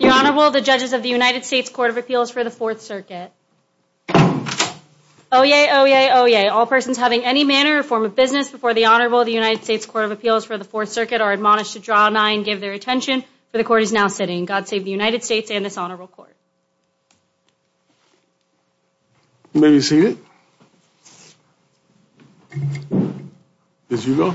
Your Honorable, the Judges of the United States Court of Appeals for the Fourth Circuit. Oyez, Oyez, Oyez. All persons having any manner or form of business before the Honorable of the United States Court of Appeals for the Fourth Circuit are admonished to draw a nine and give their attention for the court is now sitting. God save the United States and this Honorable Court. You may be seated as you go.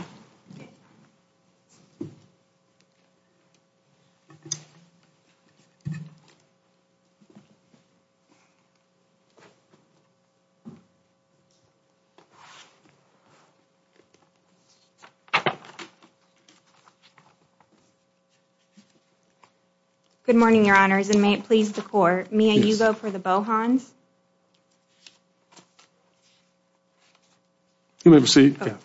Good morning, Your Honors, and may it please the Court, may you go for the Bohons? You may be seated.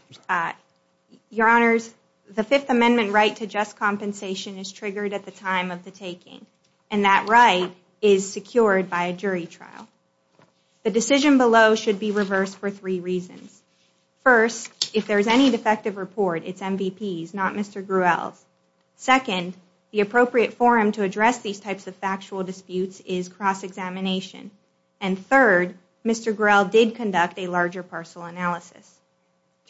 Your Honors, the Fifth Amendment right to just compensation is triggered at the time of the taking, and that right is secured by a jury trial. The decision below should be reversed for three reasons. First, if there is any defective report, it's MVP's, not Mr. Gruelle's. Second, the appropriate forum to address these types of factual disputes is cross-examination. And third, Mr. Gruelle did conduct a larger parcel analysis.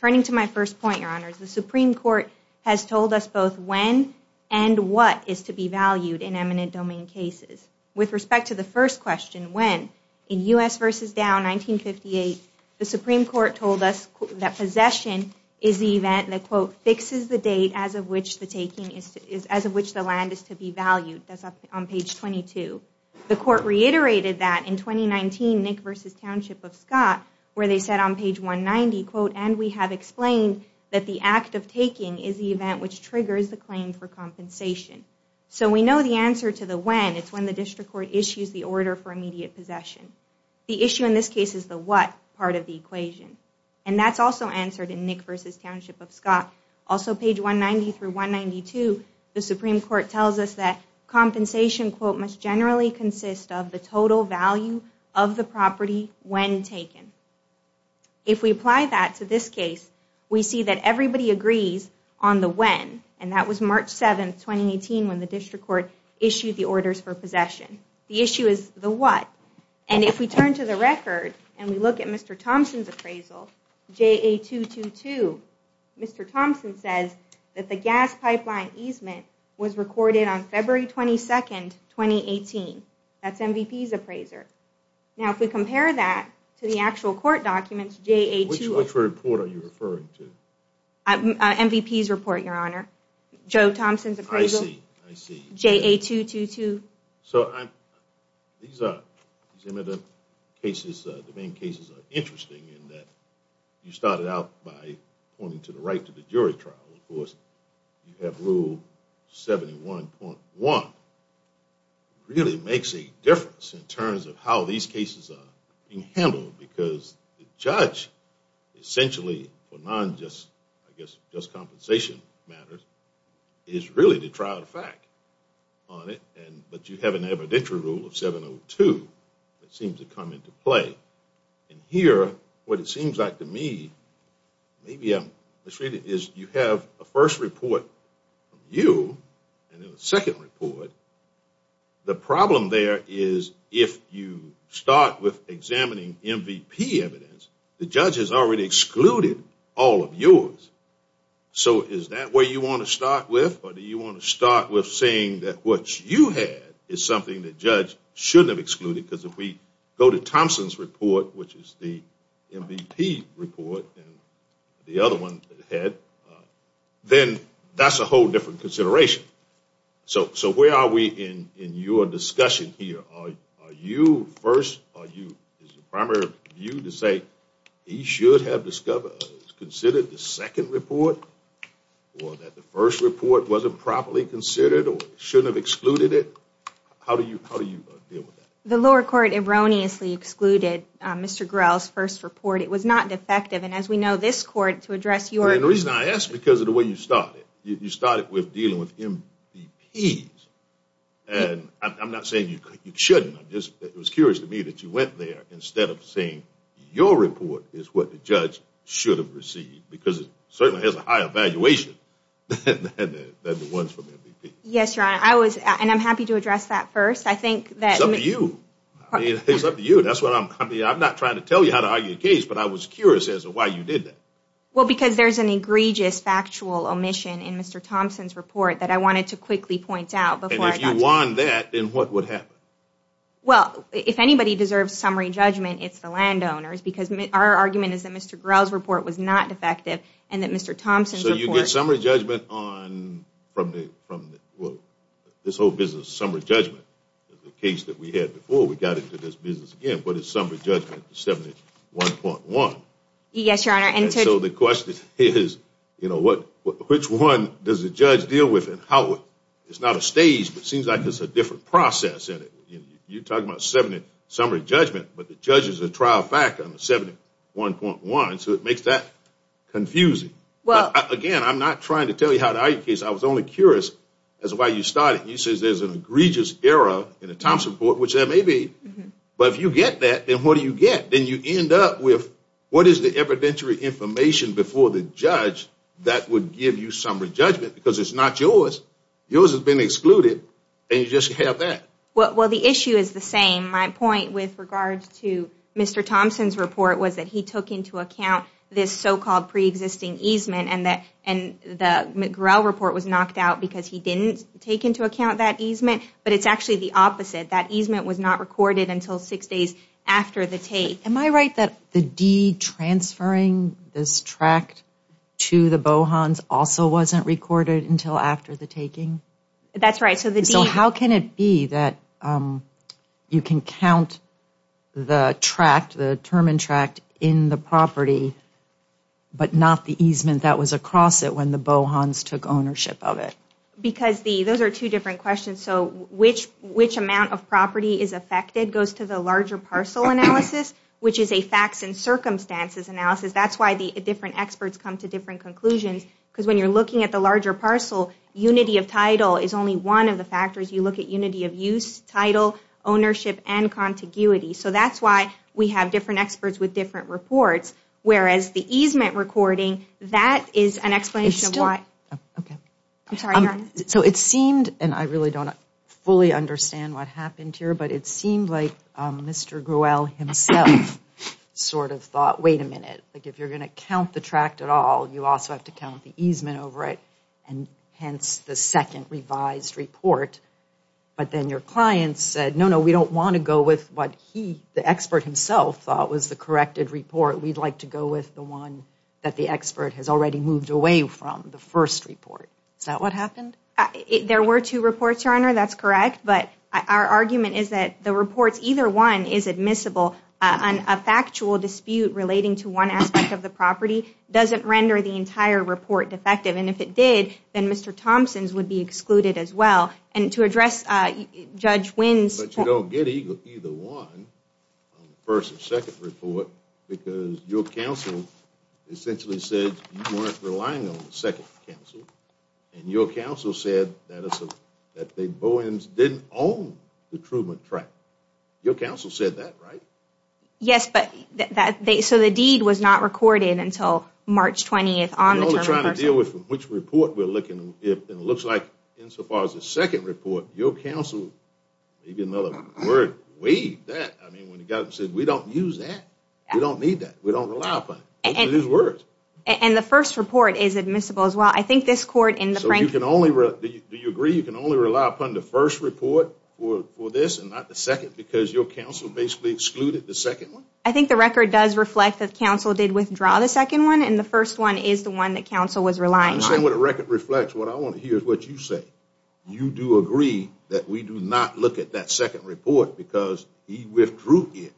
Turning to my first point, Your Honors, the Supreme Court has told us both when and what is to be valued in eminent domain cases. With respect to the first question, when, in U.S. v. Dow, 1958, the Supreme Court told us that possession is the event that, quote, fixes the date as of which the land is to be valued. That's up on page 22. The Court reiterated that in 2019, Nick v. Township of Scott, where they said on page 190, quote, and we have explained that the act of taking is the event which triggers the claim for compensation. So we know the answer to the when, it's when the District Court issues the order for immediate possession. The issue in this case is the what part of the equation. And that's also answered in Nick v. Township of Scott. Also page 190 through 192, the Supreme Court tells us that compensation, quote, must generally consist of the total value of the property when taken. If we apply that to this case, we see that everybody agrees on the when. And that was March 7, 2018, when the District Court issued the orders for possession. The issue is the what. And if we turn to the record, and we look at Mr. Thompson's appraisal, JA222, Mr. Thompson says that the gas pipeline easement was recorded on February 22, 2018. That's MVP's appraiser. Now, if we compare that to the actual court documents, JA222. Which report are you referring to? MVP's report, Your Honor. Joe Thompson's appraisal. I see. I see. JA222. So these cases, the main cases, are interesting in that you started out by pointing to the right to the jury trial. Of course, you have rule 71.1. Really makes a difference in terms of how these cases are being handled, because the judge essentially, for non-just, I guess, just compensation matters, is really to try out a fact on it. But you have an evidentiary rule of 702 that seems to come into play. And here, what it seems like to me, maybe I'm mistreated, is you have a first report from you, and then a second report. The problem there is if you start with examining MVP evidence, the judge has already excluded all of yours. So is that where you want to start with, or do you want to start with saying that what you had is something that the judge shouldn't have excluded, because if we go to Thompson's report, which is the MVP report, and the other one that he had, then that's a whole different consideration. So where are we in your discussion here? Are you first, or is the primary view to say he should have discovered, considered the second report, or that the first report wasn't properly considered, or shouldn't have excluded it? How do you deal with that? The lower court erroneously excluded Mr. Grell's first report. It was not defective. And as we know, this court, to address your- The reason I ask is because of the way you started. You started with dealing with MVPs. And I'm not saying you shouldn't, I'm just, it was curious to me that you went there instead of saying your report is what the judge should have received, because it certainly has a higher valuation than the ones from the MVP. Yes, Your Honor. I was, and I'm happy to address that first. I think that- It's up to you. I mean, it's up to you. That's what I'm, I mean, I'm not trying to tell you how to argue a case, but I was curious as to why you did that. Well, because there's an egregious factual omission in Mr. Thompson's report that I wanted to quickly point out before I got to- And if you want that, then what would happen? Well, if anybody deserves summary judgment, it's the landowners, because our argument is that Mr. Grell's report was not defective, and that Mr. Thompson's report- So you get summary judgment on, from the, from the, well, this whole business, summary judgment. The case that we had before, we got into this business again, but it's summary judgment 71.1. Yes, Your Honor. And so the question is, you know, what, which one does the judge deal with, and how, it's not a stage, but it seems like there's a different process in it. You talk about 70, summary judgment, but the judge is a trial factor on the 71.1, so it makes that confusing. Well- Again, I'm not trying to tell you how to argue a case. I was only curious as to why you started, and you said there's an egregious error in the Thompson report, which there may be, but if you get that, then what do you get? Then you end up with, what is the evidentiary information before the judge that would give you summary judgment? Because it's not yours. Yours has been excluded, and you just have that. Well, the issue is the same. My point with regards to Mr. Thompson's report was that he took into account this so-called pre-existing easement, and the McGraw report was knocked out because he didn't take into account that easement, but it's actually the opposite. That easement was not recorded until six days after the take. Am I right that the de-transferring this tract to the Bohans also wasn't recorded until after the taking? That's right. So the de- So how can it be that you can count the tract, the Terman tract, in the property, but not the easement that was across it when the Bohans took ownership of it? Because those are two different questions. So which amount of property is affected goes to the larger parcel analysis, which is a facts and circumstances analysis. That's why the different experts come to different conclusions, because when you're looking at the larger parcel, unity of title is only one of the factors. You look at unity of use, title, ownership, and contiguity. So that's why we have different experts with different reports, whereas the easement recording, that is an explanation of why- It's still- Okay. I'm sorry. Go ahead. So it seemed, and I really don't fully understand what happened here, but it seemed like Mr. Grewell himself sort of thought, wait a minute, if you're going to count the tract at all, you also have to count the easement over it, and hence the second revised report. But then your client said, no, no, we don't want to go with what he, the expert himself, thought was the corrected report. We'd like to go with the one that the expert has already moved away from, the first report. Is that what happened? There were two reports, Your Honor, that's correct. But our argument is that the reports, either one is admissible. A factual dispute relating to one aspect of the property doesn't render the entire report defective. And if it did, then Mr. Thompson's would be excluded as well. And to address Judge Wins- But you don't get either one on the first or second report, because your counsel essentially said you weren't relying on the second counsel, and your counsel said that the Bowens didn't own the Truman tract. Your counsel said that, right? Yes, but that, so the deed was not recorded until March 20th on the- We're only trying to deal with which report we're looking, and it looks like insofar as the second report, your counsel, maybe another word, waived that. I mean, when he got it and said, we don't use that. We don't need that. We don't rely upon it. Open his words. And the first report is admissible as well. I think this court, in the- So you can only, do you agree you can only rely upon the first report for this and not the second, because your counsel basically excluded the second one? I think the record does reflect that counsel did withdraw the second one, and the first one is the one that counsel was relying on. I'm saying what the record reflects. What I want to hear is what you say. You do agree that we do not look at that second report because he withdrew it.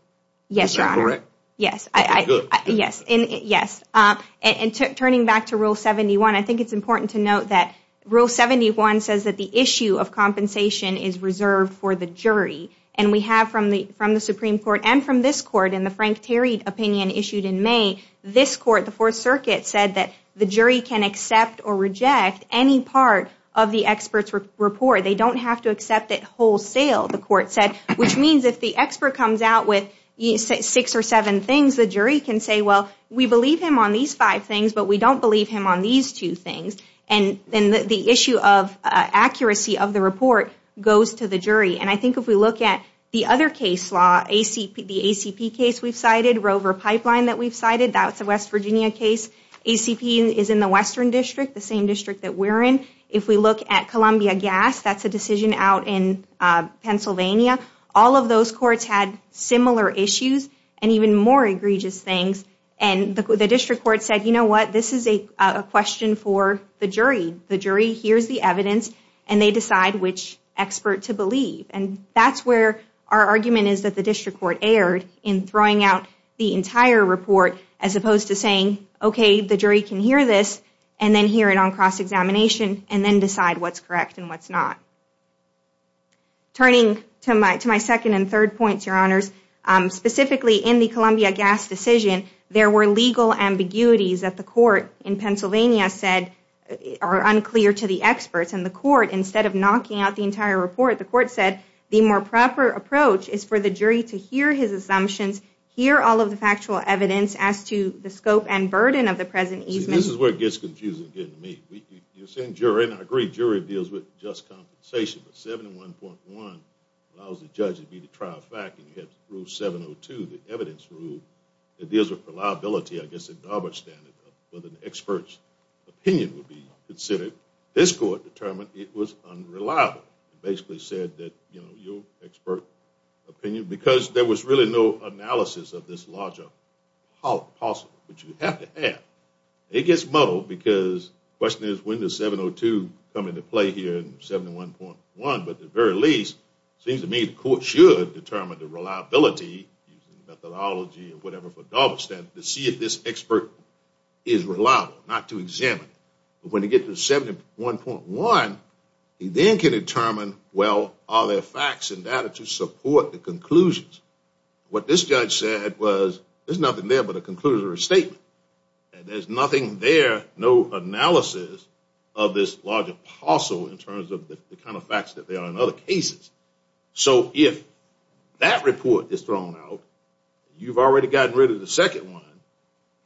Yes, Your Honor. Yes. Okay, good. Yes, and yes. And turning back to Rule 71, I think it's important to note that Rule 71 says that the issue of compensation is reserved for the jury. And we have from the Supreme Court and from this court, in the Frank Terry opinion issued in May, this court, the Fourth Circuit, said that the jury can accept or reject any part of the expert's report. They don't have to accept it wholesale, the court said, which means if the expert comes out with six or seven things, the jury can say, well, we believe him on these five things, but we don't believe him on these two things. And the issue of accuracy of the report goes to the jury. And I think if we look at the other case law, the ACP case we've cited, Rover Pipeline that we've cited, that's a West Virginia case, ACP is in the Western District, the same district that we're in. If we look at Columbia Gas, that's a decision out in Pennsylvania. All of those courts had similar issues and even more egregious things. And the district court said, you know what, this is a question for the jury. The jury hears the evidence and they decide which expert to believe. And that's where our argument is that the district court erred in throwing out the entire report as opposed to saying, okay, the jury can hear this and then hear it on cross-examination and then decide what's correct and what's not. Turning to my second and third points, Your Honors, specifically in the Columbia Gas decision, there were legal ambiguities that the court in Pennsylvania said are unclear to the experts. And the court, instead of knocking out the entire report, the court said the more proper approach is for the jury to hear his assumptions, hear all of the factual evidence as to the scope and burden of the present easement. See, this is where it gets confusing getting to me. You're saying jury, and I agree jury deals with just compensation, but 71.1 allows the judge to be the trial fact and you have rule 702, the evidence rule, that deals with reliability, I guess a garbage standard of whether an expert's opinion would be considered. This court determined it was unreliable and basically said that, you know, your expert opinion, because there was really no analysis of this larger hollow possible, which you have to have. It gets muddled because the question is when does 702 come into play here in 71.1? But at the very least, it seems to me the court should determine the reliability, methodology and whatever for garbage standards to see if this expert is reliable, not to examine. But when you get to 71.1, you then can determine, well, are there facts and data to support the conclusions? What this judge said was there's nothing there but a conclusion or a statement. There's nothing there, no analysis of this larger parcel in terms of the kind of facts that there are in other cases. So if that report is thrown out, you've already gotten rid of the second one.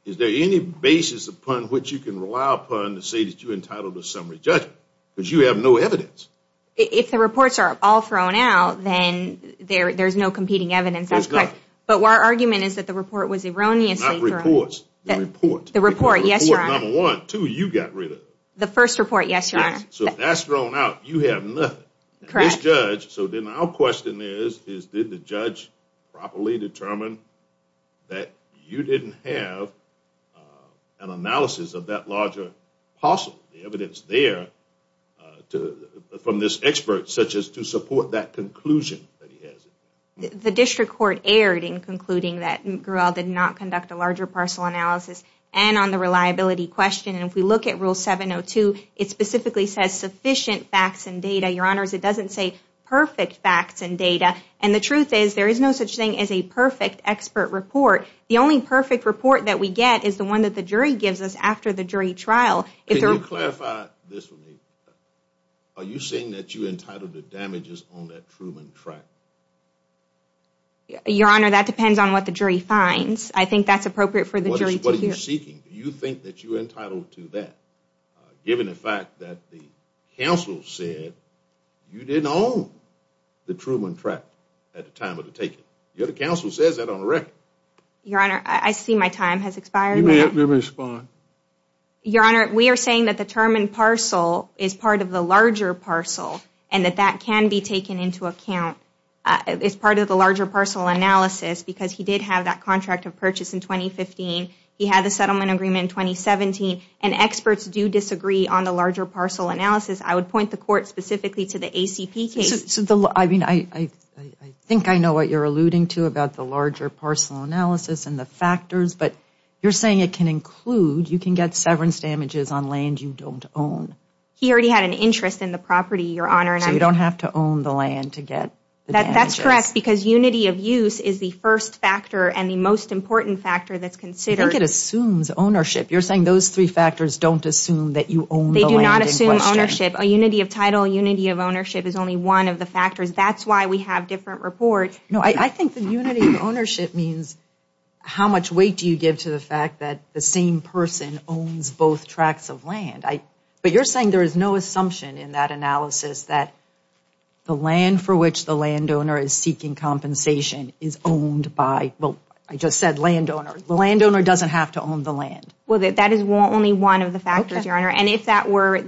Is there any basis upon which you can rely upon to say that you're entitled to a summary judgment? Because you have no evidence. If the reports are all thrown out, then there's no competing evidence. That's correct. But our argument is that the report was erroneously thrown out. Not reports. The report. The report, yes, Your Honor. The report, number one. Two, you got rid of it. The first report, yes, Your Honor. Yes. So if that's thrown out, you have nothing. Correct. This judge, so then our question is, is did the judge properly determine that you didn't have an analysis of that larger parcel, the evidence there from this expert such as to support that conclusion that he has? The district court erred in concluding that Gruell did not conduct a larger parcel analysis and on the reliability question. And if we look at Rule 702, it specifically says sufficient facts and data. Your Honors, it doesn't say perfect facts and data. And the truth is, there is no such thing as a perfect expert report. The only perfect report that we get is the one that the jury gives us after the jury trial. Can you clarify this for me? Are you saying that you entitled to damages on that Truman tract? Your Honor, that depends on what the jury finds. I think that's appropriate for the jury to hear. What are you seeking? Do you think that you're entitled to that, given the fact that the counsel said you didn't own the Truman tract at the time of the taking? Your counsel says that on the record. Your Honor, I see my time has expired. You may respond. Your Honor, we are saying that the term in parcel is part of the larger parcel and that that can be taken into account as part of the larger parcel analysis because he did have that contract of purchase in 2015. He had the settlement agreement in 2017. And experts do disagree on the larger parcel analysis. I would point the court specifically to the ACP case. I think I know what you're alluding to about the larger parcel analysis and the factors, but you're saying it can include, you can get severance damages on land you don't own. He already had an interest in the property, Your Honor. So you don't have to own the land to get the damages. That's correct because unity of use is the first factor and the most important factor that's considered. I think it assumes ownership. You're saying those three factors don't assume that you own the land in question. They do not assume ownership. A unity of title, a unity of ownership is only one of the factors. That's why we have different reports. No, I think the unity of ownership means how much weight do you give to the fact that the same person owns both tracts of land. But you're saying there is no assumption in that analysis that the land for which the landowner is seeking compensation is owned by, I just said landowner, the landowner doesn't have to own the land. Well, that is only one of the factors, Your Honor. And if that were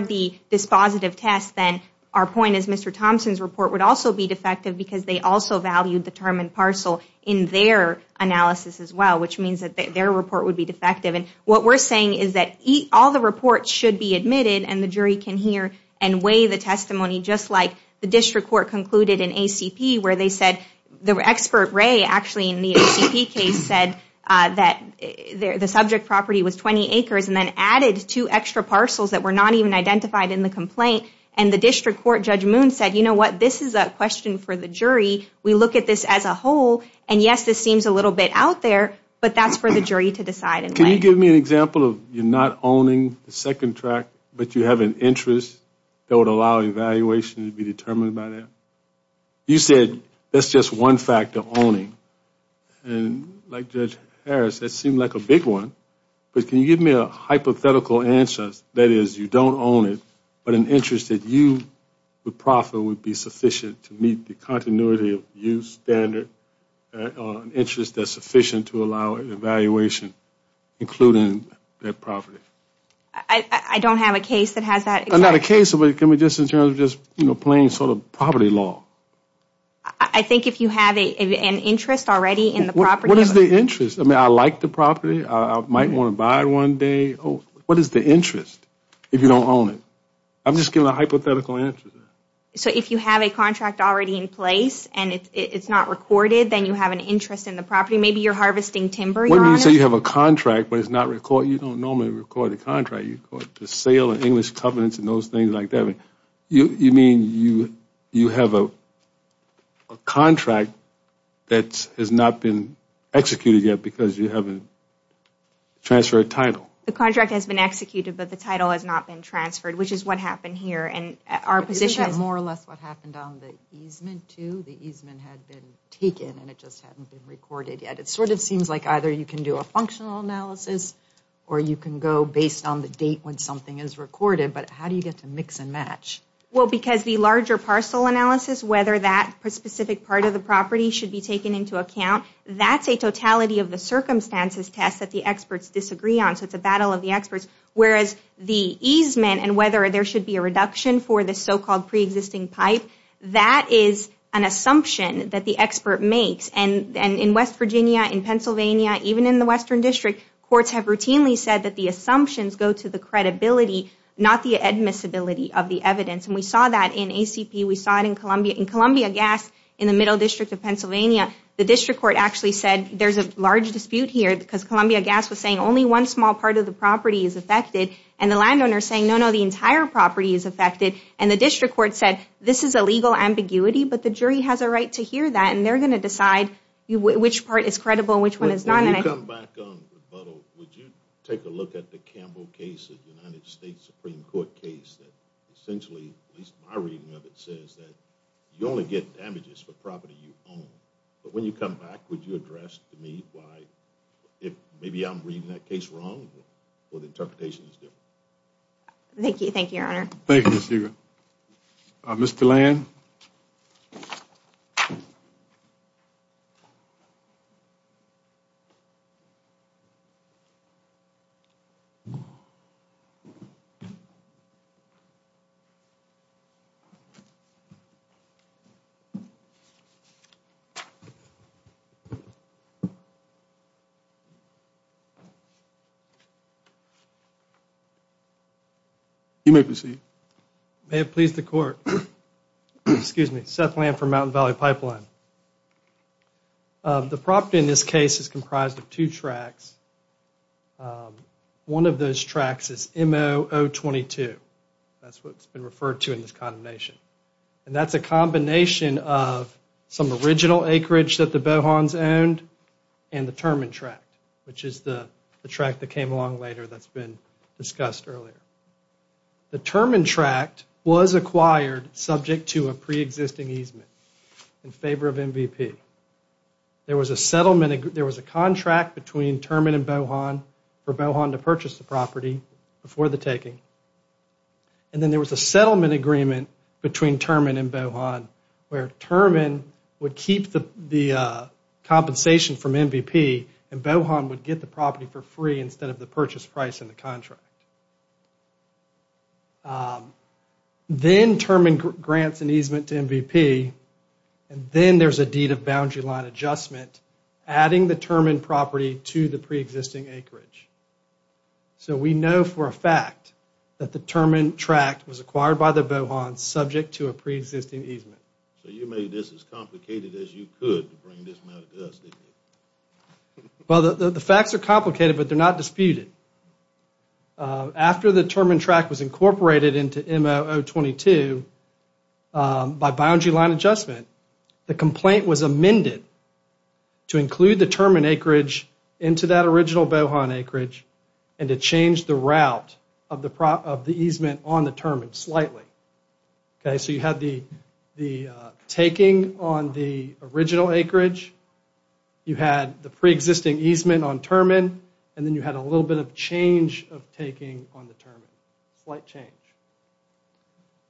the dispositive test, then our point is Mr. Thompson's report would also be defective because they also valued the term in parcel in their analysis as well, which means that their report would be defective. And what we're saying is that all the reports should be admitted and the jury can hear and weigh the testimony just like the district court concluded in ACP where they said the expert ray actually in the ACP case said that the subject property was 20 acres and then added two extra parcels that were not even identified in the complaint. And the district court Judge Moon said, you know what, this is a question for the jury. We look at this as a whole and yes, this seems a little bit out there, but that's for the jury to decide and weigh. Can you give me an example of you're not owning the second tract but you have an interest that would allow evaluation to be determined by that? You said that's just one factor, owning, and like Judge Harris, that seemed like a big one. But can you give me a hypothetical answer that is you don't own it, but an interest that you would profit would be sufficient to meet the continuity of use standard interest that's sufficient to allow an evaluation, including that property? I don't have a case that has that. Not a case, but can we just in terms of just plain sort of property law? I think if you have an interest already in the property. What is the interest? I mean, I like the property. I might want to buy it one day. What is the interest if you don't own it? I'm just giving a hypothetical answer. So if you have a contract already in place and it's not recorded, then you have an interest in the property. Maybe you're harvesting timber. When you say you have a contract but it's not recorded, you don't normally record a contract. You record the sale and English covenants and those things like that. You mean you have a contract that has not been executed yet because you haven't transferred a title? The contract has been executed, but the title has not been transferred, which is what happened here. Isn't that more or less what happened on the easement too? The easement had been taken and it just hadn't been recorded yet. It sort of seems like either you can do a functional analysis or you can go based on the date when something is recorded, but how do you get to mix and match? Well, because the larger parcel analysis, whether that specific part of the property should be taken into account, that's a totality of the circumstances test that the experts disagree on. So it's a battle of the experts, whereas the easement and whether there should be a reduction for the so-called pre-existing pipe, that is an assumption that the expert makes. In West Virginia, in Pennsylvania, even in the Western District, courts have routinely said that the assumptions go to the credibility, not the admissibility of the evidence. We saw that in ACP, we saw it in Columbia Gas in the Middle District of Pennsylvania. The district court actually said there's a large dispute here because Columbia Gas was saying only one small part of the property is affected, and the landowner is saying no, no, the entire property is affected, and the district court said this is a legal ambiguity, but the jury has a right to hear that and they're going to decide which part is credible and which one is not. When you come back on rebuttal, would you take a look at the Campbell case, the United States Supreme Court case, that essentially, at least my reading of it, says that you only get damages for property you own, but when you come back, would you address to me why if maybe I'm reading that case wrong, or the interpretation is different? Thank you, thank you, Your Honor. Thank you, Ms. Deaver. Mr. Land? Excuse me. Seth Land from Mountain Valley Pipeline. The property in this case is comprised of two tracts. One of those tracts is M0022, that's what's been referred to in this condemnation, and that's a combination of some original acreage that the Bohons owned and the Terman tract, which is the tract that came along later that's been discussed earlier. The Terman tract was acquired subject to a pre-existing easement in favor of MVP. There was a contract between Terman and Bohon for Bohon to purchase the property before the taking, and then there was a settlement agreement between Terman and Bohon where Terman would keep the compensation from MVP and Bohon would get the property for free instead of the purchase price in the contract. Then Terman grants an easement to MVP, and then there's a deed of boundary line adjustment adding the Terman property to the pre-existing acreage. So we know for a fact that the Terman tract was acquired by the Bohons subject to a pre-existing easement. So you made this as complicated as you could to bring this matter to us, didn't you? Well, the facts are complicated, but they're not disputed. After the Terman tract was incorporated into MOU22 by boundary line adjustment, the complaint was amended to include the Terman acreage into that original Bohon acreage and to change the route of the easement on the Terman slightly. Okay, so you had the taking on the original acreage, you had the pre-existing easement on Terman, and then you had a little bit of change of taking on the Terman, slight change.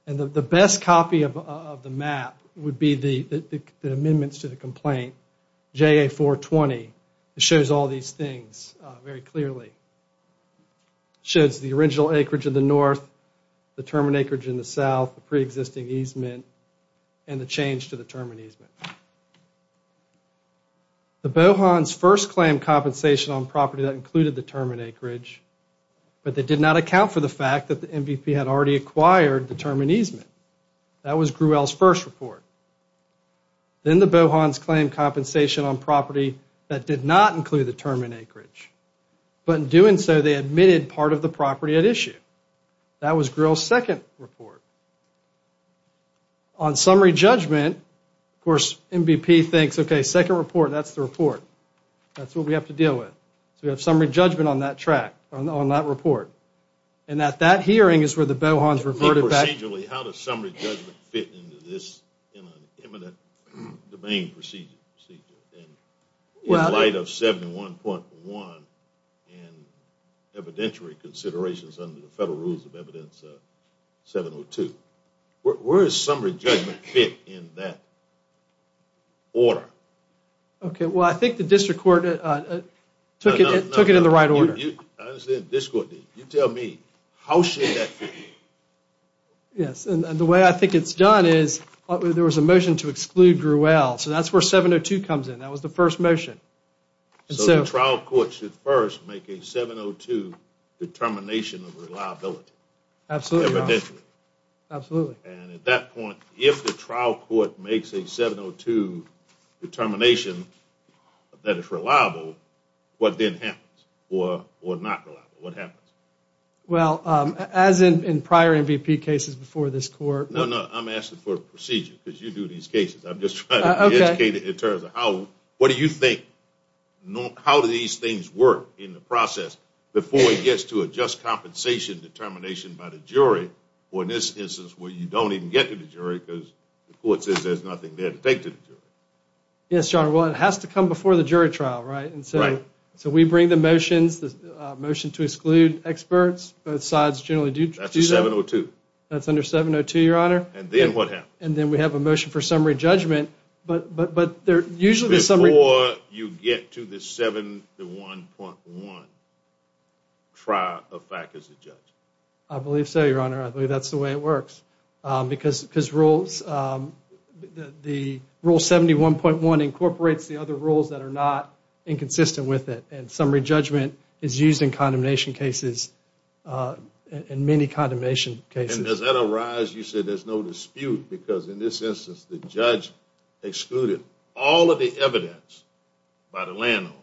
And the best copy of the map would be the amendments to the complaint, JA420, it shows all these things very clearly, shows the original acreage in the north, the Terman acreage in the south, the pre-existing easement, and the change to the Terman easement. The Bohons first claimed compensation on property that included the Terman acreage, but they did not account for the fact that the MVP had already acquired the Terman easement. That was Gruel's first report. Then the Bohons claimed compensation on property that did not include the Terman acreage, but in doing so they admitted part of the property at issue. That was Gruel's second report. On summary judgment, of course, MVP thinks, okay, second report, that's the report, that's what we have to deal with, so we have summary judgment on that track, on that report. And at that hearing is where the Bohons reverted back to... Procedurally, how does summary judgment fit into this, in an imminent domain procedure? In light of 71.1 and evidentiary considerations under the federal rules of evidence 702. Where does summary judgment fit in that order? Okay, well I think the district court took it in the right order. You tell me, how should that fit in? Yes, and the way I think it's done is, there was a motion to exclude Gruel, so that's where 702 comes in. That was the first motion. So the trial court should first make a 702 determination of reliability. Absolutely. Evidentially. Absolutely. And at that point, if the trial court makes a 702 determination that is reliable, what then happens? Or not reliable, what happens? Well, as in prior MVP cases before this court... No, no, I'm asking for a procedure, because you do these cases. I'm just trying to be educated in terms of what do you think, how do these things work in the process before it gets to a just compensation determination by the jury, or in this instance where you don't even get to the jury because the court says there's nothing there to take to the jury. Yes, your honor, well it has to come before the jury trial, right? Right. So we bring the motions, the motion to exclude experts, both sides generally do. That's a 702. That's under 702, your honor. And then what happens? And then we have a motion for summary judgment, but usually the summary... Before you get to the 71.1 trial of fact as a judge. I believe so, your honor. I believe that's the way it works. Because rules, rule 71.1 incorporates the other rules that are not inconsistent with it. And summary judgment is used in condemnation cases, in many condemnation cases. And does that arise, you said there's no dispute because in this instance the judge excluded all of the evidence by the landowner,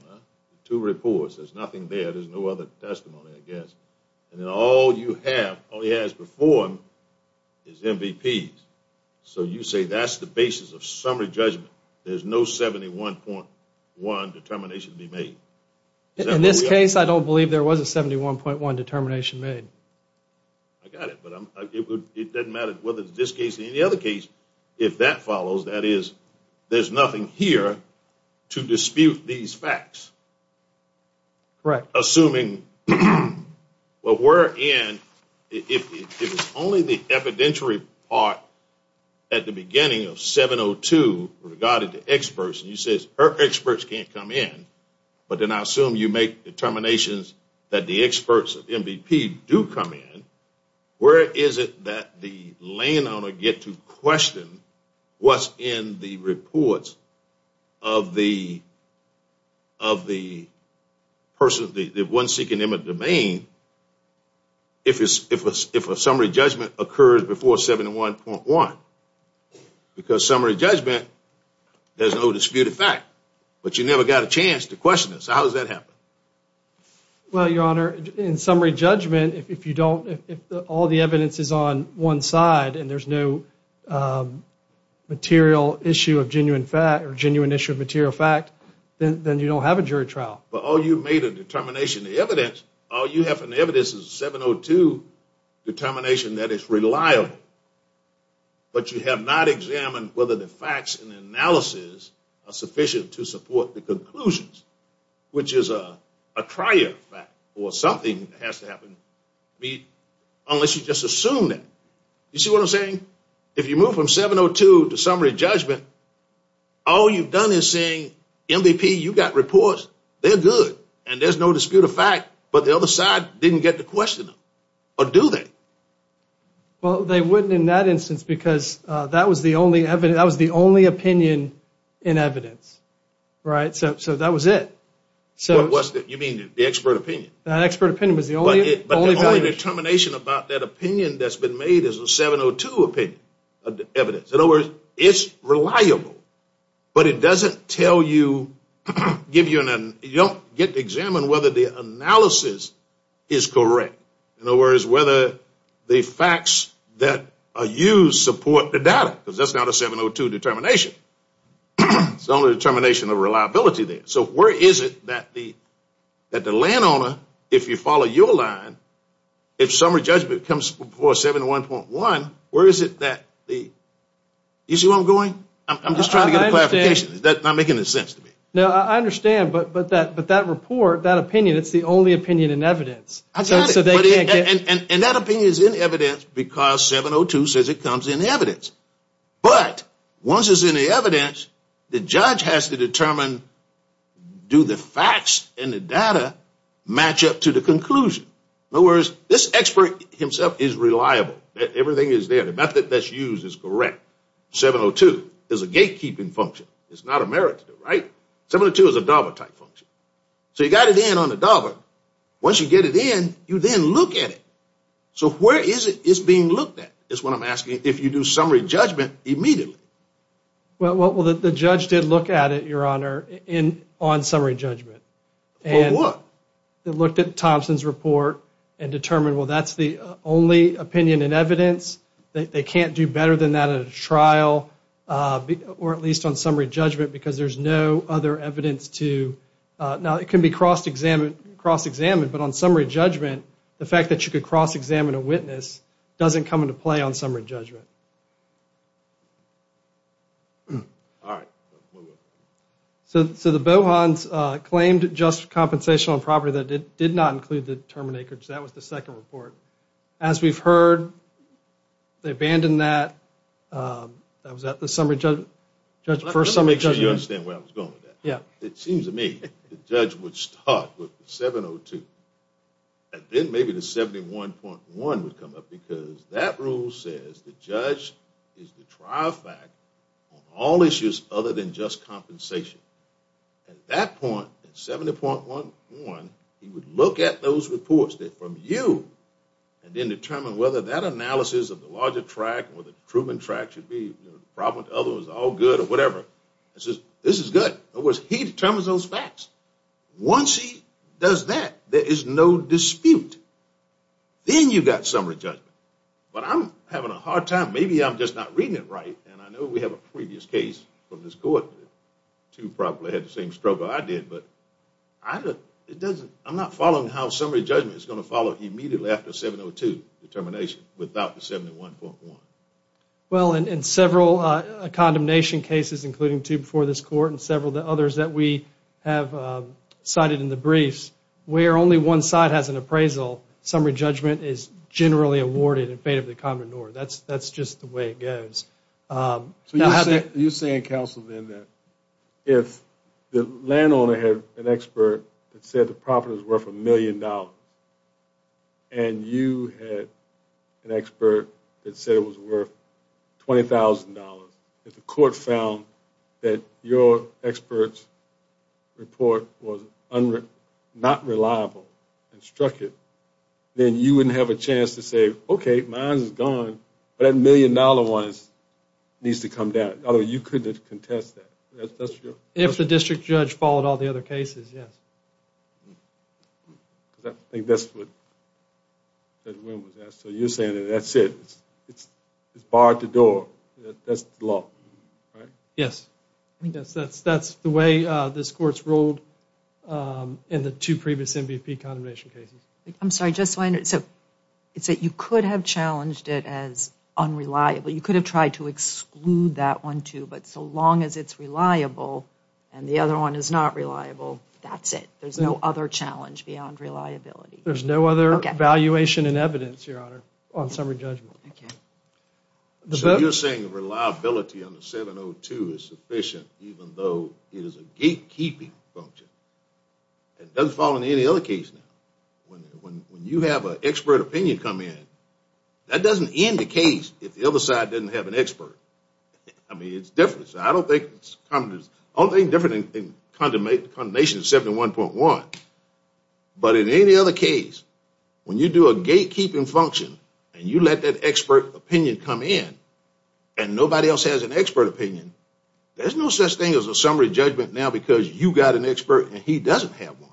two reports, there's nothing there, there's no other testimony, I guess. And then all you have, all he has before him is MVPs. So you say that's the basis of summary judgment. There's no 71.1 determination to be made. In this case I don't believe there was a 71.1 determination made. I got it. But it doesn't matter whether it's this case or any other case, if that follows, that is there's nothing here to dispute these facts. Correct. Assuming what we're in, if it's only the evidentiary part at the beginning of 702 regarded to experts, and you say experts can't come in, but then I assume you make determinations that the experts, the MVP do come in, where is it that the landowner get to question what's in the reports of the person, the one seeking in the domain if a summary judgment occurs before 71.1? Because summary judgment, there's no disputed fact, but you never got a chance to question it. So how does that happen? Well, Your Honor, in summary judgment, if you don't, if all the evidence is on one side and there's no material issue of genuine fact or genuine issue of material fact, then you don't have a jury trial. But all you've made a determination, the evidence, all you have from the evidence is a 702 determination that is reliable. But you have not examined whether the facts and the analysis are sufficient to support the conclusions, which is a prior fact or something has to happen, unless you just assume that. You see what I'm saying? If you move from 702 to summary judgment, all you've done is saying, MVP, you got reports, they're good, and there's no disputed fact, but the other side didn't get to question them. Or do they? Well, they wouldn't in that instance because that was the only opinion in evidence. Right? So that was it. What was it? You mean the expert opinion? The expert opinion was the only. But the only determination about that opinion that's been made is a 702 opinion, evidence. In other words, it's reliable, but it doesn't tell you, give you an, you don't get to examine whether the analysis is correct. In other words, whether the facts that are used support the data, because that's not a 702 determination. It's only a determination of reliability there. So where is it that the landowner, if you follow your line, if summary judgment comes before 701.1, where is it that the, you see where I'm going? I'm just trying to get a clarification. I understand. Is that not making any sense to me? No, I understand, but that report, that opinion, it's the only opinion in evidence. I got it. And that opinion is in evidence because 702 says it comes in evidence. But once it's in the evidence, the judge has to determine, do the facts and the data match up to the conclusion? In other words, this expert himself is reliable. Everything is there. The method that's used is correct. 702 is a gatekeeping function. It's not a merit to do, right? 702 is a DABA type function. So you got it in on the DABA. Once you get it in, you then look at it. So where is it it's being looked at is what I'm asking. If you do summary judgment immediately. Well, the judge did look at it, Your Honor, on summary judgment. For what? They looked at Thompson's report and determined, well, that's the only opinion in evidence. They can't do better than that at a trial or at least on summary judgment because there's no other evidence to, now it can be cross-examined, but on summary judgment, the fact that you could cross-examine a witness doesn't come into play on summary judgment. All right. So the Bohans claimed just compensation on property that did not include the term in acreage. That was the second report. As we've heard, they abandoned that. That was the first summary judgment. Let me make sure you understand where I was going with that. Yeah. It seems to me the judge would start with 702 and then maybe the 71.1 would come up because that rule says the judge is the trial fact on all issues other than just compensation. At that point, 70.1, he would look at those reports from you and then determine whether that analysis of the larger tract or the Truman tract should be, the problem with the other was all good or whatever. This is good. In other words, he determines those facts. Once he does that, there is no dispute. Then you've got summary judgment. But I'm having a hard time, maybe I'm just not reading it right, and I know we have a previous case from this court, two probably had the same struggle I did, but I'm not following how summary judgment is going to follow immediately after 702 determination without the 71.1. Well, in several condemnation cases, including two before this court and several of the others that we have cited in the briefs, where only one side has an appraisal, summary judgment is generally awarded in fate of the commoner. That's just the way it goes. So you're saying, counsel, then, that if the landowner had an expert that said the profit was worth $1 million, and you had an expert that said it was worth $20,000, if the court found that your expert's report was not reliable and struck it, then you wouldn't have a chance to say, okay, mine is gone, but that $1 million one needs to come down. In other words, you couldn't contest that. If the district judge followed all the other cases, yes. I think that's what Judge Wynn was asking. So you're saying that that's it. It's barred the door. That's the law, right? Yes. That's the way this court's ruled in the two previous MVP condemnation cases. I'm sorry, just so I understand. So you could have challenged it as unreliable. You could have tried to exclude that one, too. But so long as it's reliable and the other one is not reliable, that's it. There's no other challenge beyond reliability. There's no other evaluation and evidence, Your Honor, on summary judgment. Okay. So you're saying reliability on the 702 is sufficient even though it is a gatekeeping function. It doesn't fall into any other case now. When you have an expert opinion come in, that doesn't end the case if the other side doesn't have an expert. I mean, it's different. So I don't think it's condemnation 71.1. But in any other case, when you do a gatekeeping function and you let that expert opinion come in and nobody else has an expert opinion, there's no such thing as a summary judgment now because you got an expert and he doesn't have one.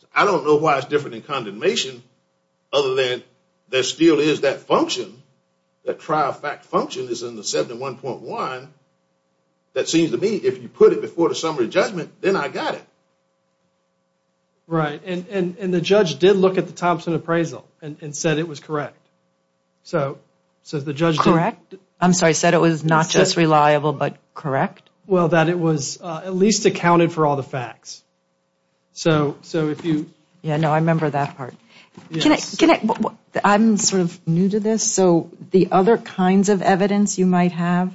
So I don't know why it's different in condemnation other than there still is that function, that trial fact function that's in the 71.1 that seems to me if you put it before the summary judgment, then I got it. Right. And the judge did look at the Thompson appraisal and said it was correct. Correct? I'm sorry. Said it was not just reliable but correct? Well, that it was at least accounted for all the facts. So if you... Yeah, no, I remember that part. I'm sort of new to this. So the other kinds of evidence you might have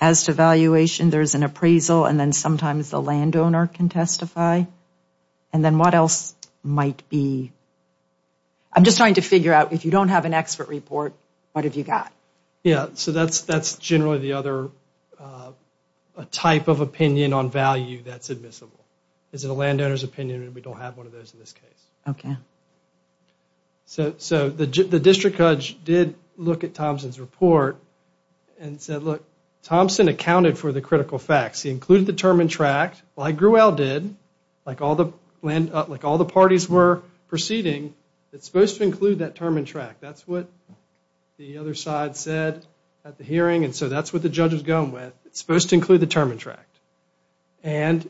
as to valuation, there's an appraisal and then sometimes the landowner can testify. And then what else might be... I'm just trying to figure out if you don't have an expert report, what have you got? Yeah, so that's generally the other type of opinion on value that's admissible. Is it a landowner's opinion and we don't have one of those in this case. Okay. So the district judge did look at Thompson's report and said look, Thompson accounted for the critical facts. He included the term and tract like Gruel did, like all the parties were proceeding, it's supposed to include that term and tract. That's what the other side said at the hearing and so that's what the judge was going with. It's supposed to include the term and tract. And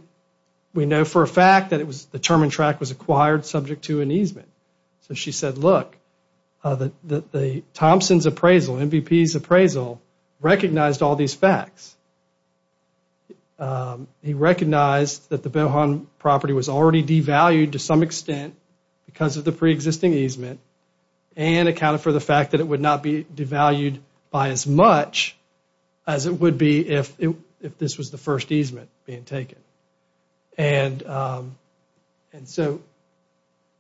we know for a fact that the term and tract was acquired subject to an easement. So she said look, Thompson's appraisal, MVP's appraisal, recognized all these facts. He recognized that the Belhan property was already devalued to some extent because of the preexisting easement and accounted for the fact that it would not be devalued by as much as it would be if this was the first easement being taken. And so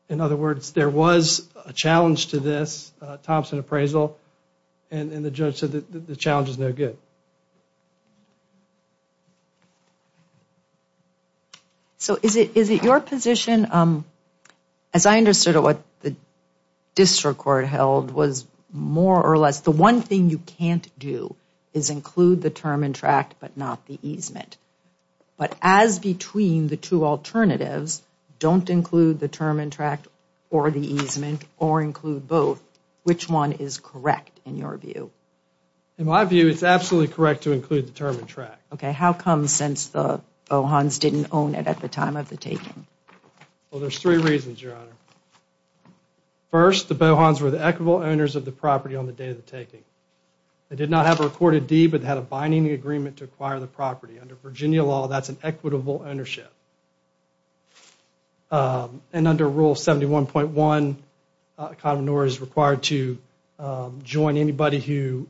in other words, there was a challenge to this Thompson appraisal and the judge said the challenge is no good. So is it your position, as I understood it, what the district court held was more or less the one thing you can't do is include the term and tract but not the easement. But as between the two alternatives, don't include the term and tract or the easement or include both, which one is correct in your view? In my view, it's absolutely correct to include the term and tract. Okay, how come since the Belhans didn't own it at the time of the taking? Well, there's three reasons, Your Honor. First, the Belhans were the equitable owners of the property on the day of the taking. They did not have a recorded deed but had a binding agreement to acquire the property. Under Virginia law, that's an equitable ownership. And under Rule 71.1, a connoisseur is required to join anybody who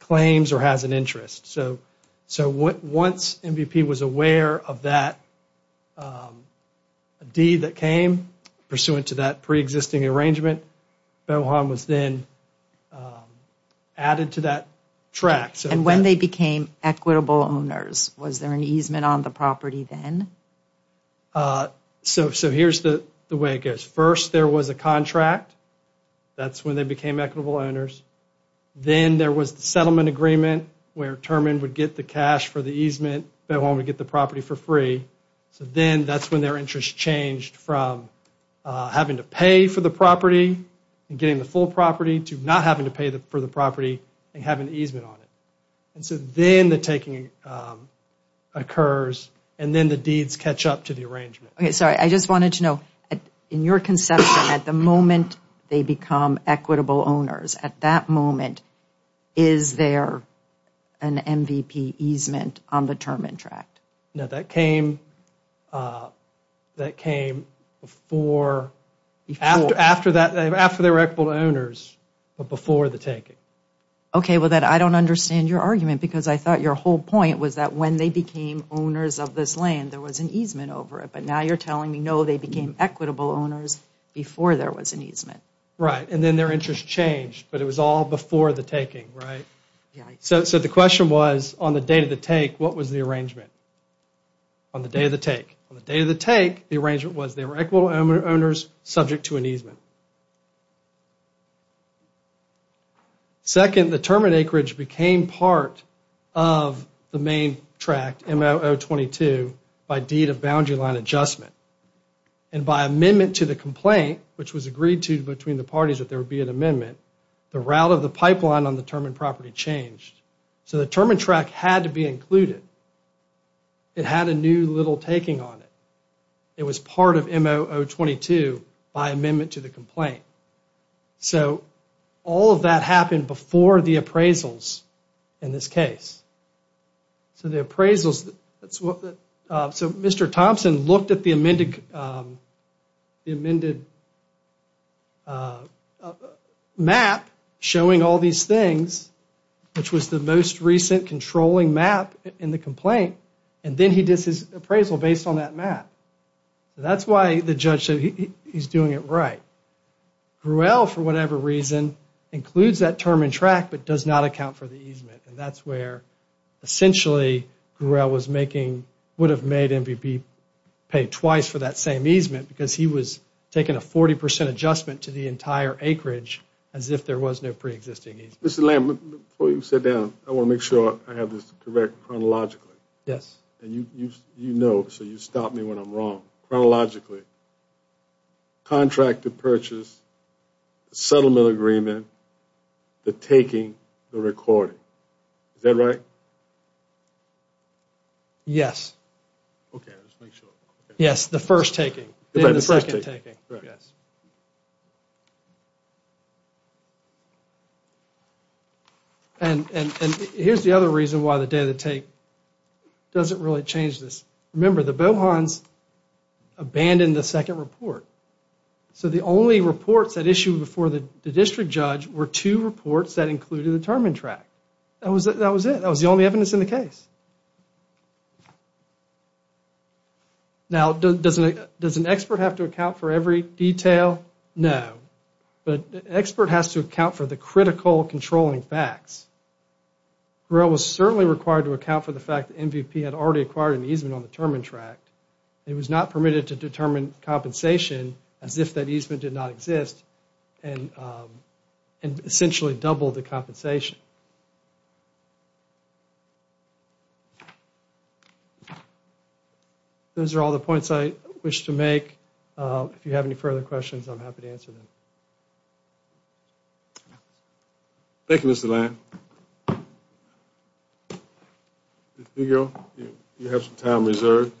claims or has an interest. So once MVP was aware of that deed that came pursuant to that preexisting arrangement, Belhans was then added to that tract. And when they became equitable owners, was there an easement on the property that was So here's the way it goes. First, there was a contract. That's when they became equitable owners. Then there was the settlement agreement where Terman would get the cash for the easement. Belhans would get the property for free. So then that's when their interest changed from having to pay for the property and getting the full property to not having to pay for the property and having the easement on it. And so then the taking occurs and then the deeds catch up to the arrangement. Okay, sorry, I just wanted to know, in your conception, at the moment they become equitable owners, at that moment, is there an MVP easement on the Terman tract? No, that came before, after they were equitable owners, but before the taking. Okay, well then I don't understand your argument because I thought your whole point was that when they became owners of this land, there was an easement over it. But now you're telling me, no, they became equitable owners before there was an easement. Right, and then their interest changed, but it was all before the taking, right? So the question was, on the day of the take, what was the arrangement? On the day of the take. On the day of the take, the arrangement was they were equitable owners subject to an easement. Second, the Terman acreage became part of the main tract, M0022, by deed of boundary line adjustment. And by amendment to the complaint, which was agreed to between the parties that there would be an amendment, the route of the pipeline on the Terman property changed. So the Terman tract had to be included. It had a new little taking on it. It was part of M0022 by amendment to the complaint. So all of that happened before the appraisals in this case. So the appraisals, so Mr. Thompson looked at the amended map showing all these things, which was the most recent controlling map in the complaint. And then he did his appraisal based on that map. That's why the judge said he's doing it right. Gruelle, for whatever reason, includes that Terman tract, but does not account for the easement. And that's where, essentially, Gruelle would have made MVP pay twice for that same easement because he was taking a 40% adjustment to the entire acreage as if there was no pre-existing easement. Mr. Lamb, before you sit down, I want to make sure I have this correct chronologically. Yes. And you know, so you stop me when I'm wrong. Chronologically, contract to purchase, settlement agreement, the taking, the recording. Is that right? Yes. Okay, let's make sure. Yes, the first taking and the second taking. Correct. And here's the other reason why the day of the take doesn't really change this. Remember, the Bohans abandoned the second report. So the only reports that issued before the district judge were two reports that included the Terman tract. That was it. That was the only evidence in the case. Now, does an expert have to account for every detail? No. But an expert has to account for the critical controlling facts. Grille was certainly required to account for the fact that MVP had already acquired an easement on the Terman tract. It was not permitted to determine compensation as if that easement did not exist and essentially doubled the compensation. Those are all the points I wish to make. If you have any further questions, I'm happy to answer them. Thank you, Mr. Lane. Ms. Grille, you have some time reserved.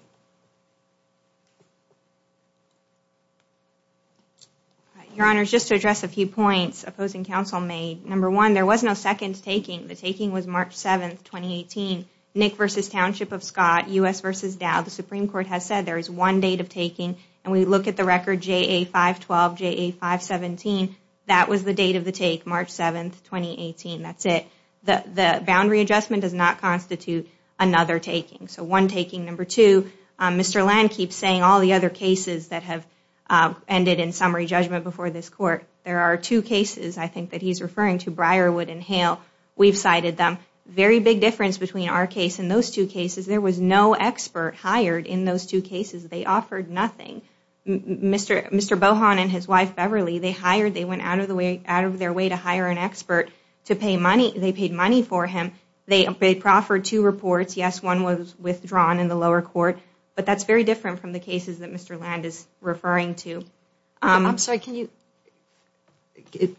Your Honor, just to address a few points opposing counsel made. Number one, there was no second taking. The taking was March 7, 2018. Nick v. Township of Scott, U.S. v. Dow. The Supreme Court has said there is one date of taking. And we look at the record, JA 512, JA 517. That was the date of the take, March 7, 2018. That's it. The boundary adjustment does not constitute another taking. So one taking. Number two, Mr. Lane keeps saying all the other cases that have ended in summary judgment before this Court. There are two cases, I think, that he's referring to, Briarwood and Hale. We've cited them. Very big difference between our case and those two cases. There was no expert hired in those two cases. They offered nothing. Mr. Bohan and his wife, Beverly, they hired. They went out of their way to hire an expert to pay money. They paid money for him. They proffered two reports. Yes, one was withdrawn in the lower court. But that's very different from the cases that Mr. Land is referring to. I'm sorry, can you?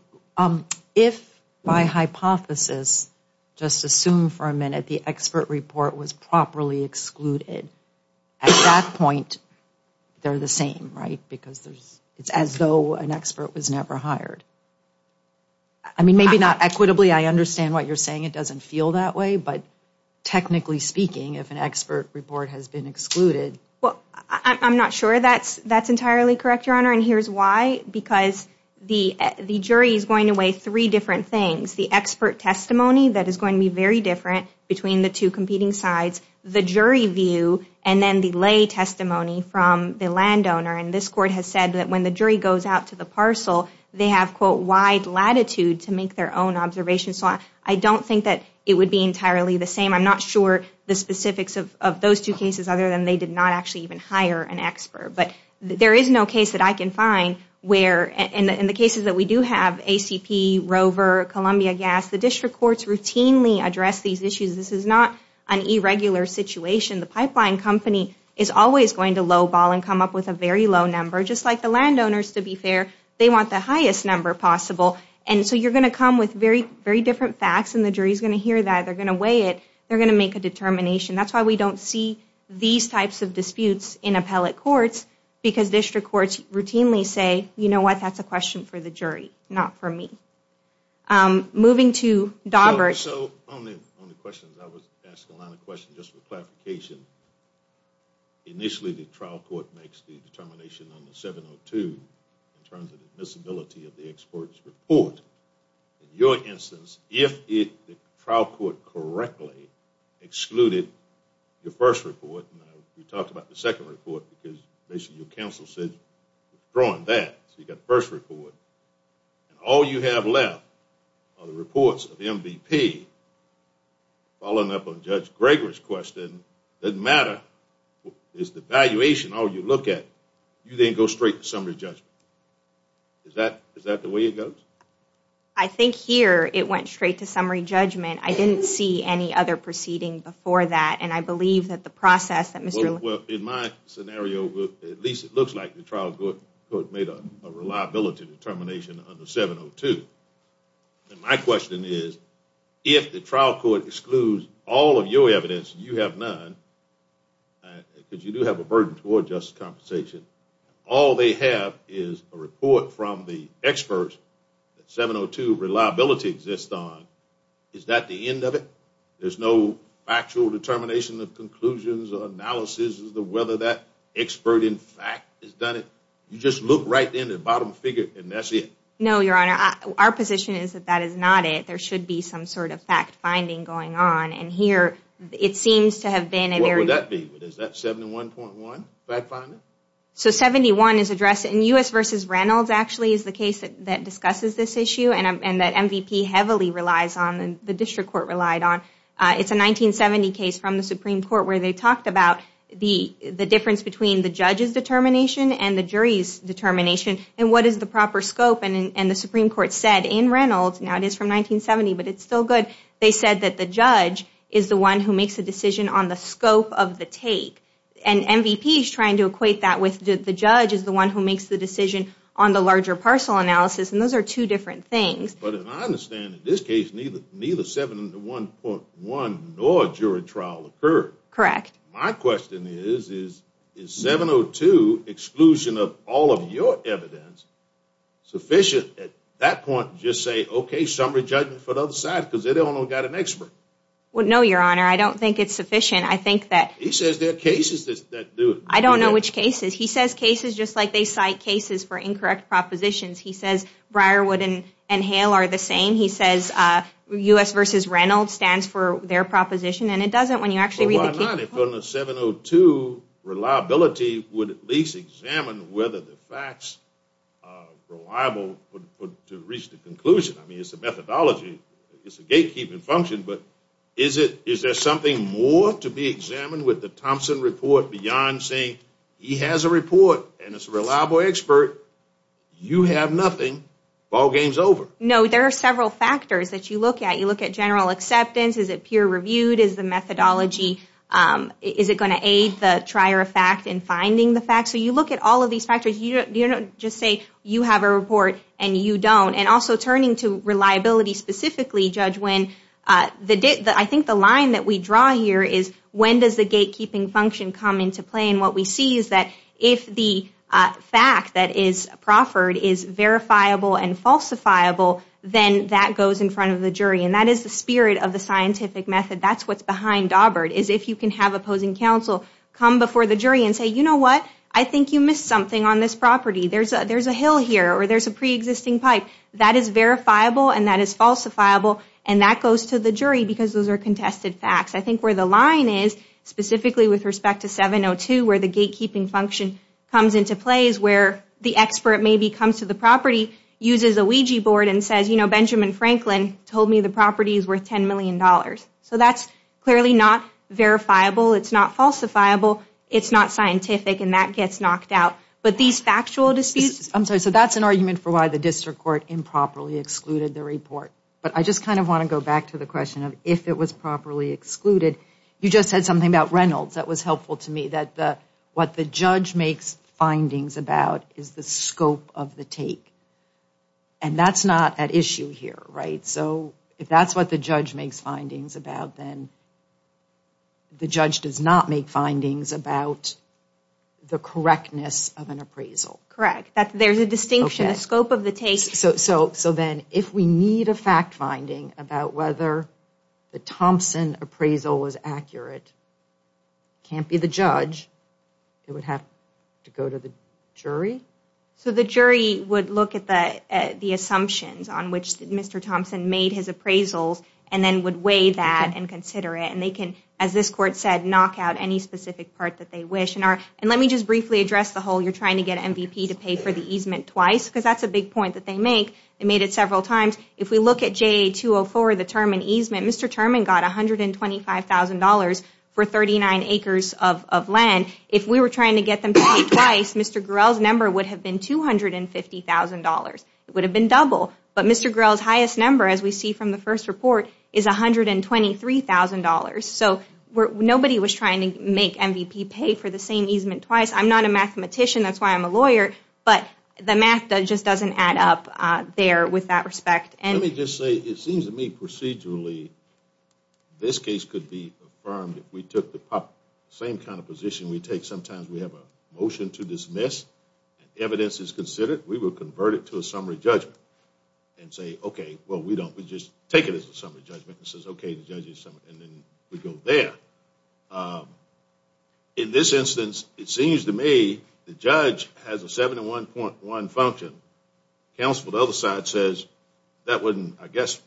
If by hypothesis, just assume for a minute, the expert report was properly excluded, at that point, they're the same, right? Because it's as though an expert was never hired. I mean, maybe not equitably. I understand what you're saying. It doesn't feel that way. But technically speaking, if an expert report has been excluded. I'm not sure that's entirely correct, Your Honor. And here's why. Because the jury is going to weigh three different things. The expert testimony, that is going to be very different between the two competing sides. The jury view. And then the lay testimony from the landowner. And this court has said that when the jury goes out to the parcel, they have, quote, wide latitude to make their own observations. So I don't think that it would be entirely the same. I'm not sure the specifics of those two cases, other than they did not actually even hire an expert. But there is no case that I can find where, in the cases that we do have, ACP, Rover, Columbia Gas, the district courts routinely address these issues. This is not an irregular situation. The pipeline company is always going to low ball and come up with a very low number. Just like the landowners, to be fair, they want the highest number possible. And so you're going to come with very different facts. And the jury is going to hear that. They're going to weigh it. They're going to make a determination. That's why we don't see these types of disputes in appellate courts, because district courts routinely say, you know what, that's a question for the jury, not for me. Moving to Dawberg. So on the questions, I was asking a lot of questions just for clarification. Initially, the trial court makes the determination on the 702 in terms of the admissibility of the expert's report. In your instance, if the trial court correctly excluded your first report, you talked about the second report, because basically your counsel said, withdrawing that, so you got the first report, and all you have left are the reports of MVP, following up on Judge Gregory's question, doesn't matter. It's the valuation. All you look at, you then go straight to summary judgment. Is that the way it goes? I think here, it went straight to summary judgment. I didn't see any other proceeding before that, and I believe that the process that Mr. Well, in my scenario, at least it looks like the trial court made a reliability determination on the 702. My question is, if the trial court excludes all of your evidence, and you have none, because you do have a burden toward justice compensation, all they have is a report from the experts that 702 reliability exists on. Is that the end of it? There's no actual determination of conclusions or analysis as to whether that expert, in fact, has done it? You just look right in the bottom figure, and that's it? No, Your Honor. Our position is that that is not it. There should be some sort of fact-finding going on, and here, it seems to have been a very What would that be? Is that 71.1 fact-finding? 71 is addressed in U.S. v. Reynolds, actually, is the case that discusses this issue, and that MVP heavily relies on, and the district court relied on. It's a 1970 case from the Supreme Court where they talked about the difference between the judge's determination and the jury's determination, and what is the proper scope. The Supreme Court said in Reynolds, now it is from 1970, but it's still good, they said that the judge is the one who makes the decision on the scope of the take. And MVP is trying to equate that with the judge is the one who makes the decision on the larger parcel analysis, and those are two different things. But if I understand, in this case, neither 71.1 nor jury trial occurred. Correct. My question is, is 702 exclusion of all of your evidence sufficient at that point to just say, okay, summary judgment for the other side, because they don't know they've got an expert? No, Your Honor, I don't think it's sufficient. He says there are cases that do it. I don't know which cases. He says cases just like they cite cases for incorrect propositions. He says Briarwood and Hale are the same. He says U.S. versus Reynolds stands for their proposition, and it doesn't when you actually read the case. But why not? 702 reliability would at least examine whether the facts are reliable to reach the conclusion. I mean, it's a methodology, it's a gatekeeping function, but is there something more to be examined with the Thompson report beyond saying he has a report and it's a reliable expert? You have nothing. Ball game's over. No, there are several factors that you look at. You look at general acceptance. Is it peer-reviewed? Is the methodology, is it going to aid the trier of fact in finding the facts? So you look at all of these factors. You don't just say you have a report and you don't. And also turning to reliability specifically, Judge Wynn, I think the line that we draw here is when does the gatekeeping function come into play? And what we see is that if the fact that is proffered is verifiable and falsifiable, then that goes in front of the jury. And that is the spirit of the scientific method. That's what's behind Dawbert is if you can have opposing counsel come before the jury and say, you know what, I think you missed something on this property. There's a hill here or there's a preexisting pipe. That is verifiable and that is falsifiable and that goes to the jury because those are contested facts. I think where the line is, specifically with respect to 702 where the gatekeeping function comes into play is where the expert maybe comes to the property, uses a Ouija board and says, you know, Benjamin Franklin told me the property is worth $10 million. So that's clearly not verifiable. It's not falsifiable. It's not scientific and that gets knocked out. But these factual disputes... So that's an argument for why the district court improperly excluded the report. But I just kind of want to go back to the question of if it was properly excluded. You just said something about Reynolds that was helpful to me, that what the judge makes findings about is the scope of the take. And that's not at issue here, right? So if that's what the judge makes findings about, then the judge does not make findings about the correctness of an appraisal. Correct. There's a distinction. The scope of the take... So then if we need a fact finding about whether the Thompson appraisal was accurate, it can't be the judge. It would have to go to the jury? So the jury would look at the assumptions on which Mr. Thompson made his appraisals and then would weigh that and consider it. And they can, as this court said, knock out any specific part that they wish. And let me just briefly address the whole you're trying to get MVP to pay for the easement twice. Because that's a big point that they make. They made it several times. If we look at JA-204, the term in easement, Mr. Terman got $125,000 for 39 acres of land. If we were trying to get them to pay twice, Mr. Grell's number would have been $250,000. It would have been double. But Mr. Grell's highest number, as we see from the first report, is $123,000. So nobody was trying to make MVP pay for the same easement twice. I'm not a mathematician. That's why I'm a lawyer. But the math just doesn't add up there with that respect. Let me just say, it seems to me procedurally this case could be affirmed if we took the same kind of position we take. Sometimes we have a motion to dismiss and evidence is considered. We will convert it to a summary judgment and say, well, we don't. We just take it as a summary judgment. It says, okay, the judge is summary. And then we go there. In this instance, it seems to me the judge has a 71.1 function. Counsel for the other side says, that wouldn't, I guess,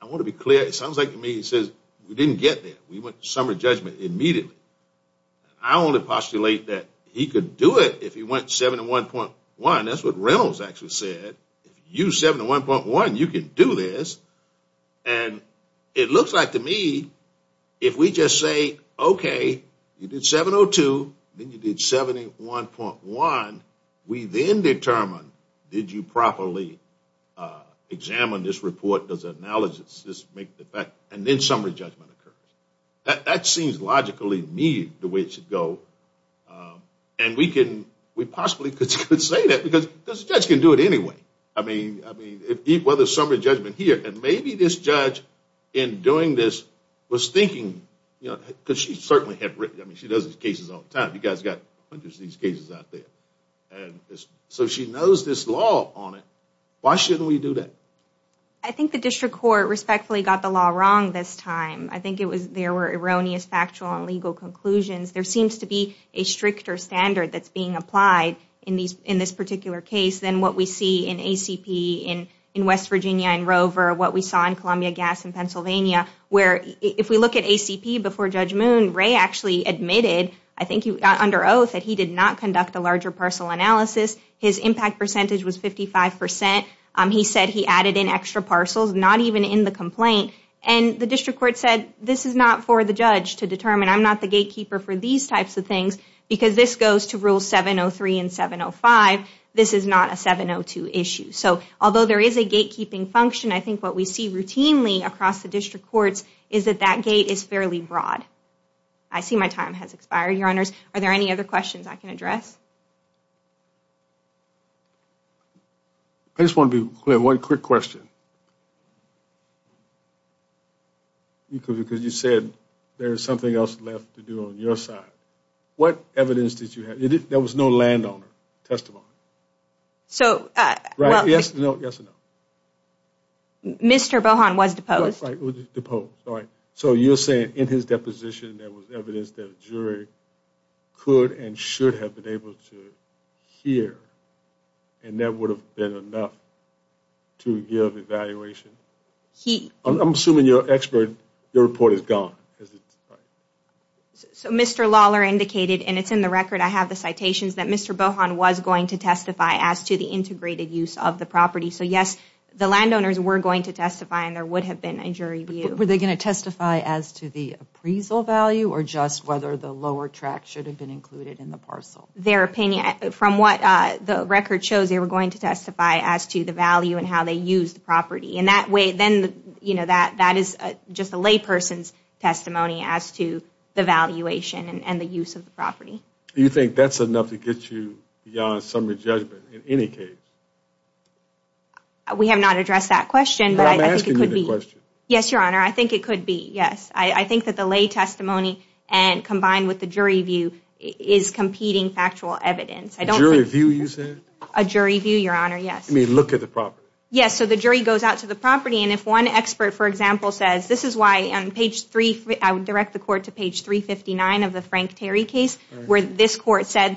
I want to be clear. It sounds like to me he says, we didn't get there. We went to summary judgment immediately. I only postulate that he could do it if he went 71.1. That's what Reynolds actually said. If you said 71.1, you can do this. And it looks like to me if we just say, okay, you did 702. Then you did 71.1. We then determine, did you properly examine this report? Does the analysis make the fact? And then summary judgment occurs. That seems logically to me the way it should go. And we can, we possibly could say that. Because the judge can do it anyway. I mean, well, there's summary judgment here. And maybe this judge in doing this was thinking, you know, because she certainly had written, I mean, she does these cases all the time. You guys got hundreds of these cases out there. And so she knows this law on it. Why shouldn't we do that? I think the district court respectfully got the law wrong this time. I think it was, there were erroneous factual and legal conclusions. There seems to be a stricter standard that's being applied in this particular case than what we see in ACP, in West Virginia, in Rover, what we saw in Columbia Gas in Pennsylvania. Where if we look at ACP before Judge Moon, Ray actually admitted, I think under oath, that he did not conduct a larger parcel analysis. His impact percentage was 55%. He said he added in extra parcels, not even in the complaint. And the district court said, this is not for the judge to determine. I'm not the gatekeeper for these types of things. Because this goes to rule 703 and 705. This is not a 702 issue. So although there is a gatekeeping function, I think what we see routinely across the district courts is that that gate is fairly broad. I see my time has expired, Your Honors. Are there any other questions I can address? I just want to be clear, one quick question. Because you said there's something else left to do on your side. What evidence did you have? There was no landowner testimony. Yes or no? Mr. Bohan was deposed. Deposed, all right. So you're saying in his deposition, there was evidence that a jury could and should have been able to hear. And that would have been enough to give evidence. I'm assuming your report is gone. So Mr. Lawler indicated, and it's in the record, I have the citations, that Mr. Bohan was going to testify as to the integrated use of the property. So yes, the landowners were going to testify, and there would have been a jury view. Were they going to testify as to the appraisal value, or just whether the lower tract should have been included in the parcel? Their opinion, from what the record shows, they were going to testify as to the value and how they used the property. And that is just a layperson's testimony as to the valuation and the use of the property. Do you think that's enough to get you beyond summary judgment in any case? We have not addressed that question. But I'm asking you the question. Yes, Your Honor, I think it could be, yes. I think that the lay testimony combined with the jury view is competing factual evidence. A jury view, you said? A jury view, Your Honor, yes. You mean look at the property? Yes, so the jury goes out to the property, and if one expert, for example, says, this is why on page 3, I would direct the court to page 359 of the Frank Terry case, where this court said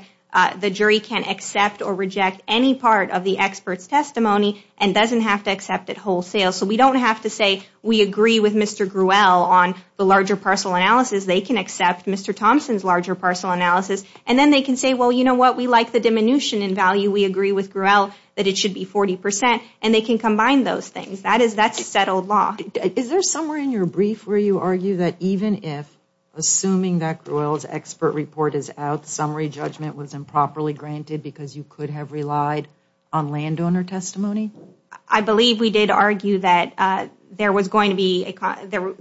the jury can accept or reject any part of the expert's testimony and doesn't have to accept it wholesale. So we don't have to say, we agree with Mr. Gruel on the larger parcel analysis. They can accept Mr. Thompson's larger parcel analysis. And then they can say, well, you know what, we like the diminution in value. We agree with Gruel that it should be 40%. And they can combine those things. That's a settled law. Is there somewhere in your brief where you argue that even if, assuming that Gruel's expert report is out, summary judgment was improperly granted because you could have relied on landowner testimony? I believe we did argue that there was going to be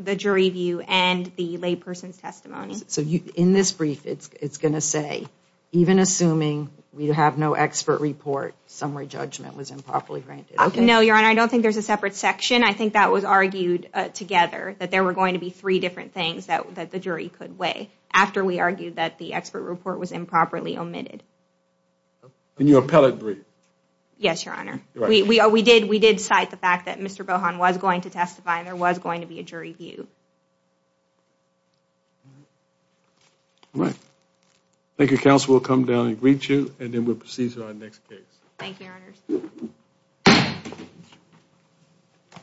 the jury view and the lay person's testimony. So in this brief, it's going to say, even assuming we have no expert report, summary judgment was improperly granted. No, Your Honor, I don't think there's a separate section. I think that was argued together, that there were going to be three different things that the jury could weigh after we argued that the expert report was improperly omitted. In your appellate brief? Yes, Your Honor. We did cite the fact that Mr. Bohan was going to testify and there was going to be a jury view. All right. Thank you, Counsel. We'll come down and greet you and then we'll proceed to our next case. Thank you, Your Honor.